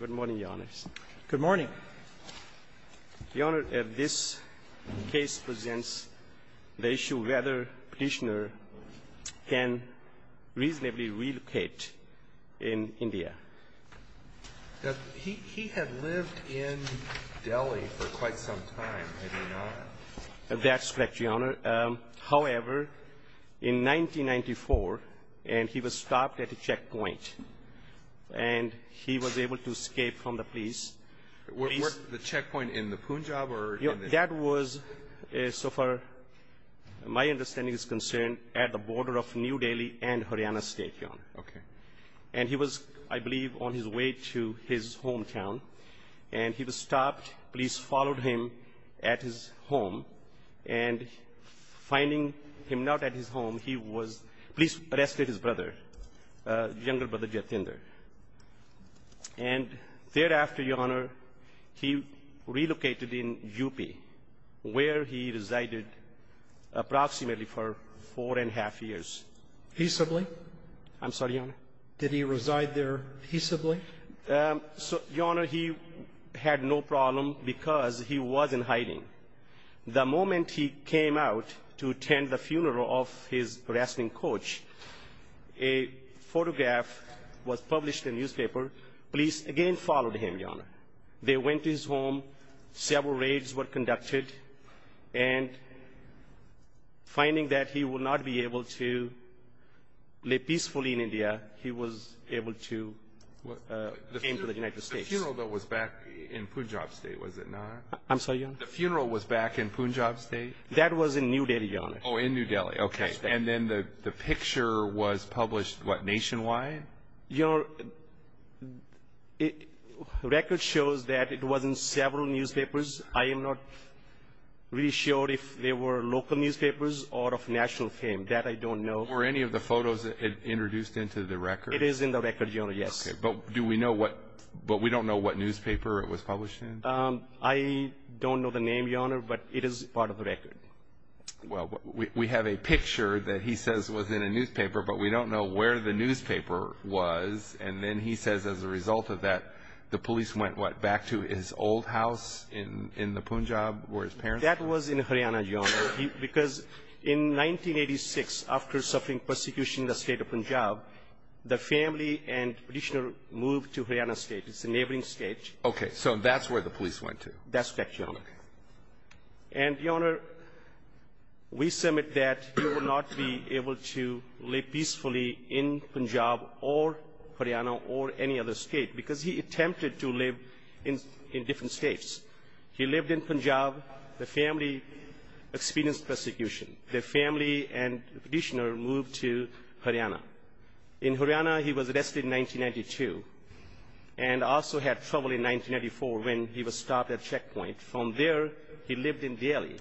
Good morning, Your Honors. Good morning. Your Honor, this case presents the issue whether Petitioner can reasonably relocate in India. He had lived in Delhi for quite some time, had he not? That's correct, Your Honor. However, in 1994, he was stopped at a checkpoint, and he was able to escape from the police. The checkpoint in the Punjab? That was, so far my understanding is concerned, at the border of New Delhi and Haryana State, Your Honor. Okay. And he was, I believe, on his way to his hometown, and he was stopped. Police followed him at his home, and finding him not at his home, he was — police arrested his brother, younger brother Jatinder. And thereafter, Your Honor, he relocated in UP, where he resided approximately for four-and-a-half years. Peaceably? I'm sorry, Your Honor. Did he reside there peaceably? So, Your Honor, he had no problem because he wasn't hiding. The moment he came out to attend the funeral of his wrestling coach, a photograph was published in newspaper. Police again followed him, Your Honor. They went to his home. Several raids were conducted. And finding that he would not be able to live peacefully in India, he was able to came to the United States. The funeral, though, was back in Punjab State, was it not? I'm sorry, Your Honor? The funeral was back in Punjab State? That was in New Delhi, Your Honor. Oh, in New Delhi. Okay. And then the picture was published, what, nationwide? Your Honor, the record shows that it was in several newspapers. I am not really sure if they were local newspapers or of national fame. That I don't know. Were any of the photos introduced into the record? It is in the record, Your Honor, yes. Okay, but do we know what newspaper it was published in? I don't know the name, Your Honor, but it is part of the record. Well, we have a picture that he says was in a newspaper, but we don't know where the newspaper was. And then he says as a result of that, the police went, what, back to his old house in the Punjab where his parents were? That was in Haryana, Your Honor, because in 1986, after suffering persecution in the State of Punjab, the family and practitioner moved to Haryana State. It's a neighboring state. Okay. So that's where the police went to. That's correct, Your Honor. Okay. And, Your Honor, we submit that he will not be able to live peacefully in Punjab or Haryana or any other state because he attempted to live in different states. He lived in Punjab. The family experienced persecution. The family and practitioner moved to Haryana. In Haryana, he was arrested in 1992 and also had trouble in 1994 when he was stopped at a checkpoint. From there, he lived in Delhi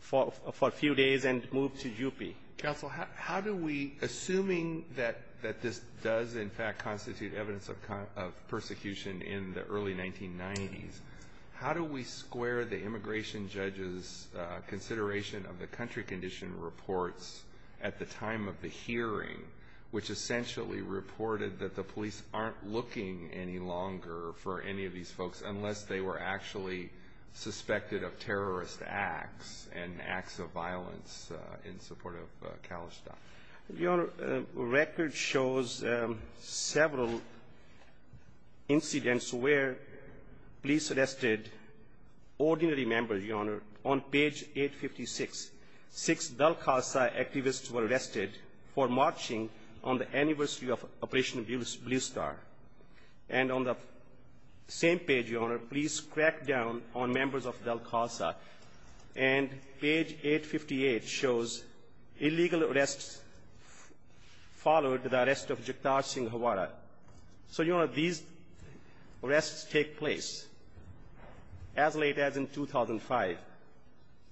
for a few days and moved to UP. Counsel, how do we, assuming that this does, in fact, constitute evidence of persecution in the early 1990s, how do we square the immigration judge's consideration of the country condition reports at the time of the hearing, which essentially reported that the police aren't looking any longer for any of the actually suspected of terrorist acts and acts of violence in support of Khalistan? Your Honor, the record shows several incidents where police arrested ordinary members, Your Honor. On page 856, six Dalhousie activists were arrested for marching on the anniversary of Operation Blue Star. And on the same page, Your Honor, please crack down on members of Dalhousie. And page 858 shows illegal arrests followed the arrest of Jaktar Singh Hawara. So, Your Honor, these arrests take place as late as in 2005.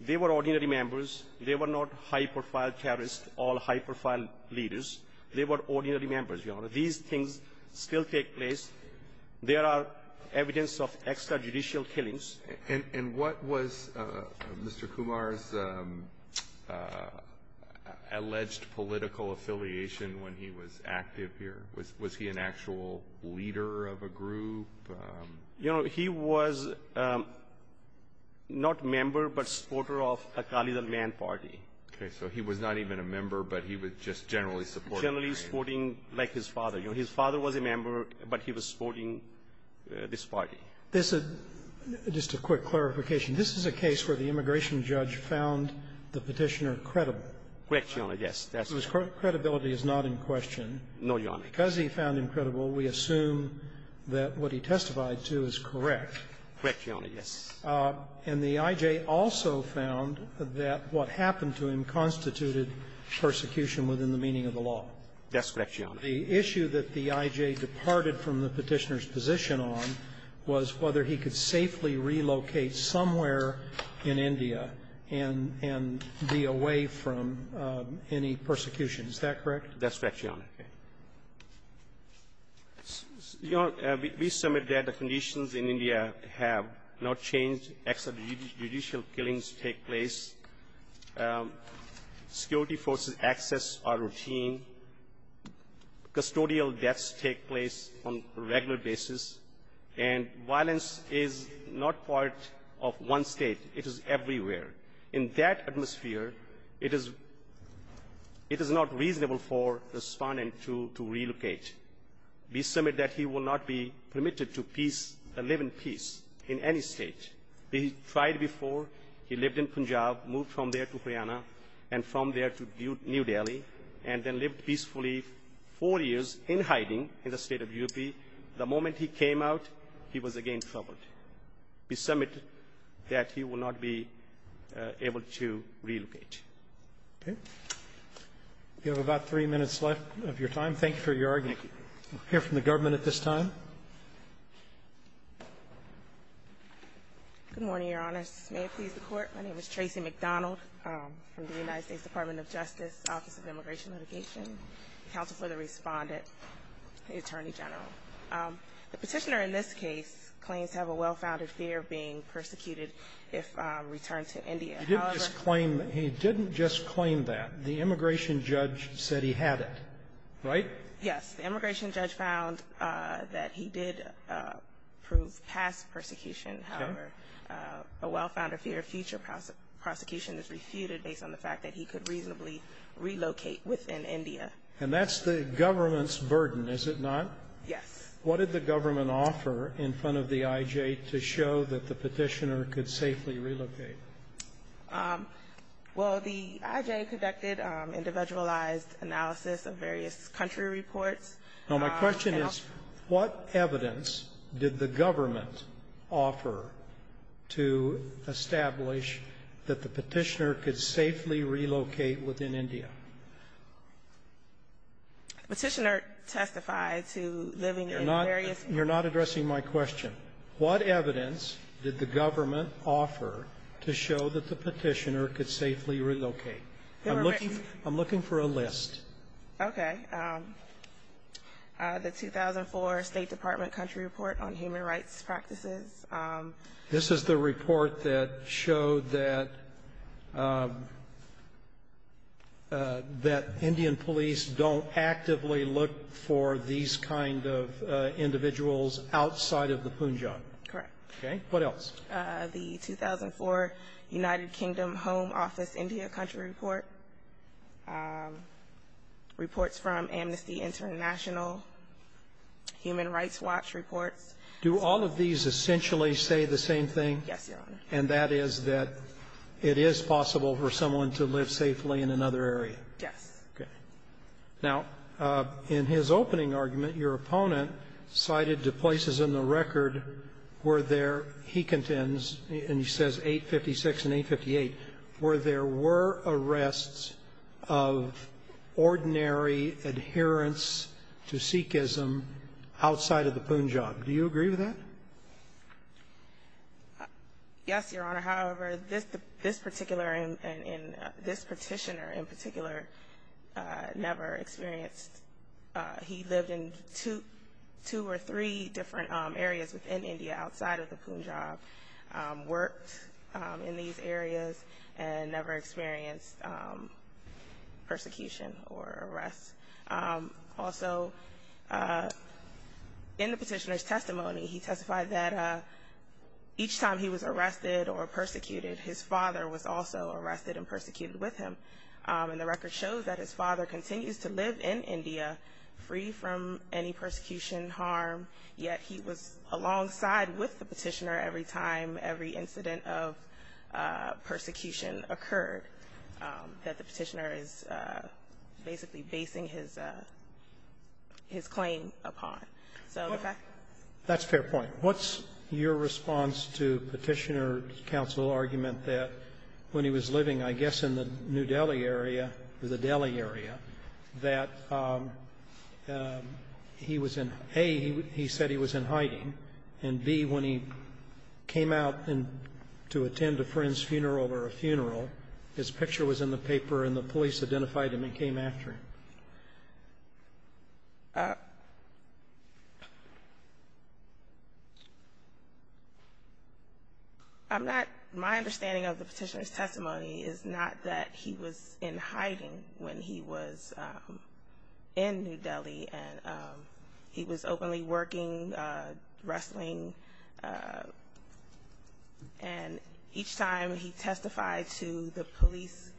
They were ordinary members. They were not high-profile terrorists or high-profile leaders. They were ordinary members, Your Honor. These things still take place. There are evidence of extrajudicial killings. And what was Mr. Kumar's alleged political affiliation when he was active here? Was he an actual leader of a group? You know, he was not member but supporter of a Khalid al-Man party. Okay, so he was not even a member, but he was just generally supporting. Like his father. You know, his father was a member, but he was supporting this party. This is just a quick clarification. This is a case where the immigration judge found the petitioner credible. Correct, Your Honor. Yes, that's correct. So his credibility is not in question. No, Your Honor. Because he found him credible, we assume that what he testified to is correct. Correct, Your Honor. Yes. And the I.J. also found that what happened to him constituted persecution within the meaning of the law. That's correct, Your Honor. The issue that the I.J. departed from the petitioner's position on was whether he could safely relocate somewhere in India and be away from any persecution. Is that correct? That's correct, Your Honor. Okay. Your Honor, we submit that the conditions in India have not changed, extrajudicial killings take place. Security forces access our routine. Custodial deaths take place on a regular basis. And violence is not part of one state. It is everywhere. In that atmosphere, it is not reasonable for the respondent to relocate. We submit that he will not be permitted to peace or live in peace in any state. He tried before. He lived in Punjab, moved from there to Haryana, and from there to New Delhi, and then lived peacefully four years in hiding in the State of UP. The moment he came out, he was again troubled. We submit that he will not be able to relocate. Okay. We have about three minutes left of your time. Thank you for your argument. Thank you. We'll hear from the government at this time. Good morning, Your Honors. May it please the Court. My name is Tracy McDonald from the United States Department of Justice, Office of Immigration Litigation. Counsel for the Respondent, the Attorney General. The Petitioner in this case claims to have a well-founded fear of being persecuted if returned to India. He didn't just claim that. The immigration judge said he had it, right? Yes. The immigration judge found that he did prove past persecution. However, a well-founded fear of future prosecution is refuted based on the fact that he could reasonably relocate within India. And that's the government's burden, is it not? Yes. What did the government offer in front of the IJ to show that the Petitioner could safely relocate? Well, the IJ conducted individualized analysis of various country reports. Now, my question is, what evidence did the government offer to establish that the Petitioner could safely relocate within India? The Petitioner testified to living in various countries. You're not addressing my question. What evidence did the government offer to show that the Petitioner could safely relocate? I'm looking for a list. Okay. The 2004 State Department Country Report on Human Rights Practices. This is the report that showed that Indian police don't actively look for these kind of individuals outside of the Punjab. Correct. Okay. What else? The 2004 United Kingdom Home Office India Country Report, reports from Amnesty International, Human Rights Watch reports. Do all of these essentially say the same thing? Yes, Your Honor. And that is that it is possible for someone to live safely in another area? Yes. Okay. Now, in his opening argument, your opponent cited the places in the record where there, he contends, and he says 856 and 858, where there were arrests of ordinary adherence to Sikhism outside of the Punjab. Do you agree with that? Yes, Your Honor. Your Honor, however, this particular and this Petitioner in particular never experienced. He lived in two or three different areas within India outside of the Punjab, worked in these areas, and never experienced persecution or arrests. Also, in the Petitioner's testimony, he testified that each time he was arrested or persecuted, his father was also arrested and persecuted with him. And the record shows that his father continues to live in India free from any persecution, harm, yet he was alongside with the Petitioner every time every time he was arrested. So I don't see his claim upon. That's a fair point. What's your response to Petitioner's counsel argument that when he was living, I guess, in the New Delhi area, the Delhi area, that he was in, A, he said he was in hiding, and, B, when he came out to attend a friend's funeral or a funeral, his picture was in the paper and the police identified him and came after him? I'm not, my understanding of the Petitioner's testimony is not that he was in hiding when he was in New Delhi, and he was openly working, wrestling, and each time he had police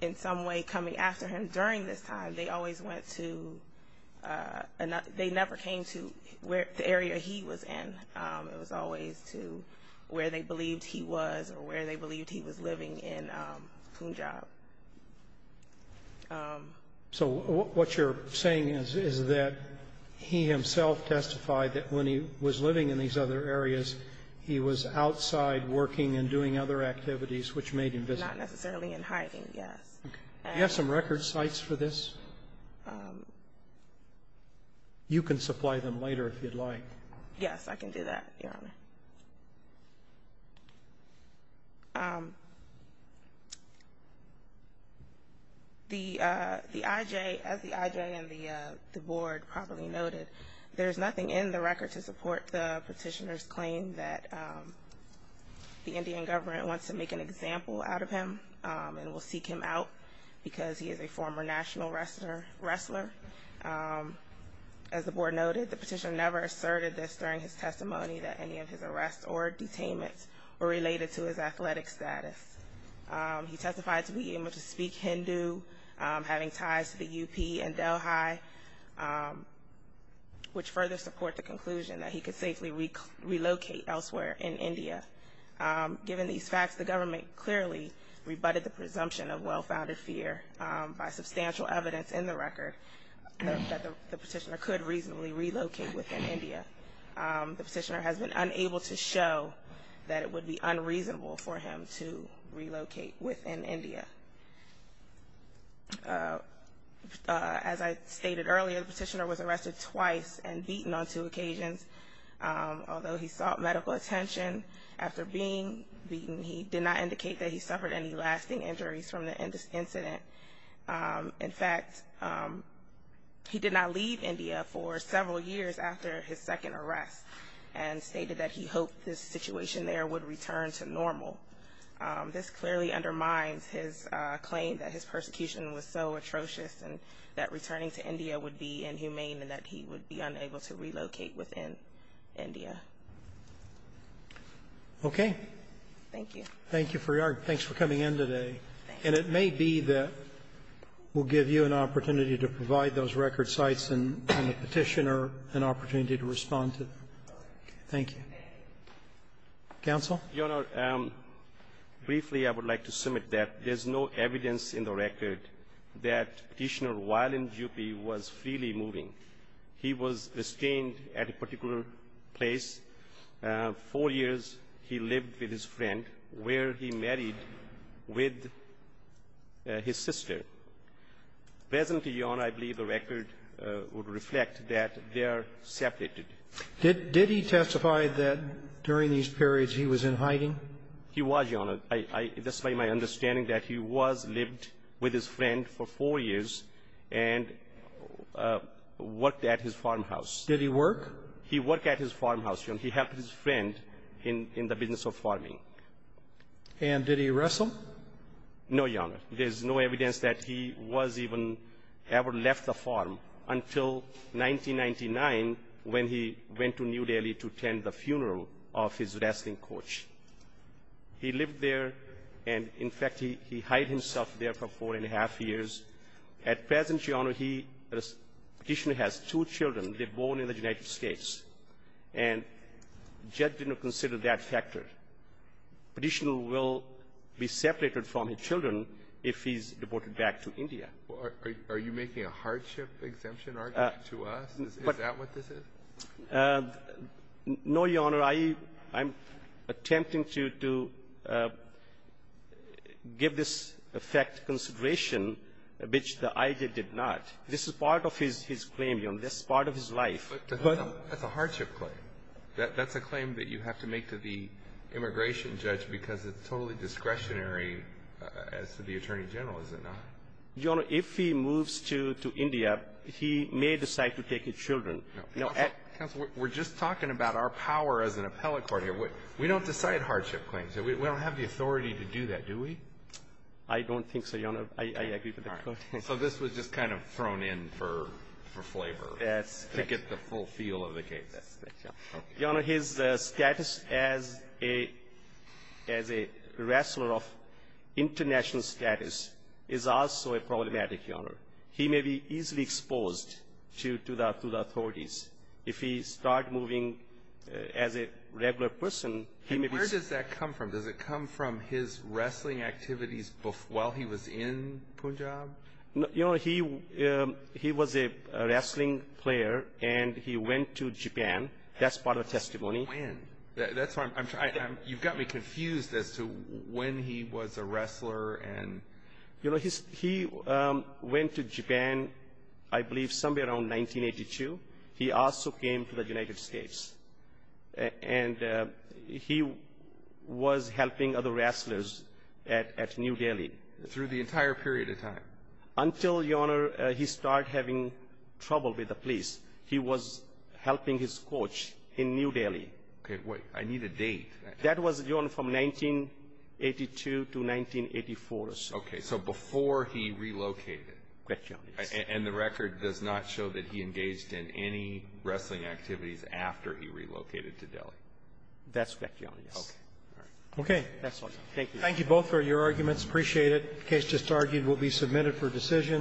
in some way coming after him during this time, they always went to, they never came to the area he was in. It was always to where they believed he was or where they believed he was living in Punjab. So what you're saying is that he himself testified that when he was living in these other areas, he was outside working and doing other activities which made him visible? Not necessarily in hiding, yes. Do you have some record sites for this? You can supply them later if you'd like. Yes, I can do that, Your Honor. The IJ, as the IJ and the board probably noted, there is nothing in the record to support the Petitioner's claim that the Indian government wants to make an example out of him and will seek him out because he is a former national wrestler. As the board noted, the Petitioner never asserted this during his testimony that any of his arrests or detainments were related to his athletic status. He testified to being able to speak Hindu, having ties to the UP and Delhi, which further support the conclusion that he could safely relocate elsewhere in India. Given these facts, the government clearly rebutted the presumption of well-founded fear by substantial evidence in the record that the Petitioner could reasonably relocate within India. The Petitioner has been unable to show that it would be unreasonable for him to relocate within India. As I stated earlier, the Petitioner was arrested twice and beaten on two occasions. Although he sought medical attention after being beaten, he did not indicate that he suffered any lasting injuries from the incident. In fact, he did not leave India for several years after his second arrest and stated that he hoped this situation there would return to normal. This clearly undermines his claim that his persecution was so atrocious and that returning to India would be inhumane and that he would be unable to relocate within India. Okay. Thank you. Thank you for your argument. Thanks for coming in today. And it may be that we'll give you an opportunity to provide those record sites and the Petitioner an opportunity to respond to them. Thank you. Counsel? Your Honor, briefly I would like to submit that there's no evidence in the record that Petitioner, while in Dupuy, was freely moving. He was restrained at a particular place. Four years, he lived with his friend, where he married with his sister. Presently, Your Honor, I believe the record would reflect that they are separated. Did he testify that during these periods he was in hiding? He was, Your Honor. That's my understanding, that he was lived with his friend for four years and worked at his farmhouse. Did he work? He worked at his farmhouse, Your Honor. He helped his friend in the business of farming. And did he wrestle? No, Your Honor. There's no evidence that he was even ever left the farm until 1999, when he went to New Delhi to attend the funeral of his wrestling coach. He lived there, and in fact, he hid himself there for four and a half years. At present, Your Honor, Petitioner has two children. They're born in the United States. And judge did not consider that factor. Petitioner will be separated from his children if he's deported back to India. Are you making a hardship exemption argument to us? Is that what this is? No, Your Honor. I'm attempting to give this effect consideration, which the IJA did not. This is part of his claim, Your Honor. This is part of his life. But that's a hardship claim. That's a claim that you have to make to the immigration judge because it's totally discretionary as to the attorney general, is it not? Your Honor, if he moves to India, he may decide to take his children. Counsel, we're just talking about our power as an appellate court here. We don't decide hardship claims. We don't have the authority to do that, do we? I don't think so, Your Honor. I agree with that. So this was just kind of thrown in for flavor to get the full feel of the case. Your Honor, his status as a wrestler of international status is also problematic, Your Honor. He may be easily exposed to the authorities. If he starts moving as a regular person, he may be ---- And where does that come from? Does it come from his wrestling activities while he was in Punjab? Your Honor, he was a wrestling player, and he went to Japan. That's part of the testimony. When? That's why I'm trying to ---- You've got me confused as to when he was a wrestler and ---- You know, he went to Japan, I believe, somewhere around 1982. He also came to the United States. And he was helping other wrestlers at New Delhi. Through the entire period of time? Until, Your Honor, he started having trouble with the police. He was helping his coach in New Delhi. Okay. Wait. I need a date. That was, Your Honor, from 1982 to 1984 or so. Okay. So before he relocated. Correct, Your Honor. And the record does not show that he engaged in any wrestling activities after he relocated to Delhi. That's correct, Your Honor. Okay. All right. Okay. Thank you. Thank you both for your arguments. Appreciate it. The case just argued will be submitted for decision.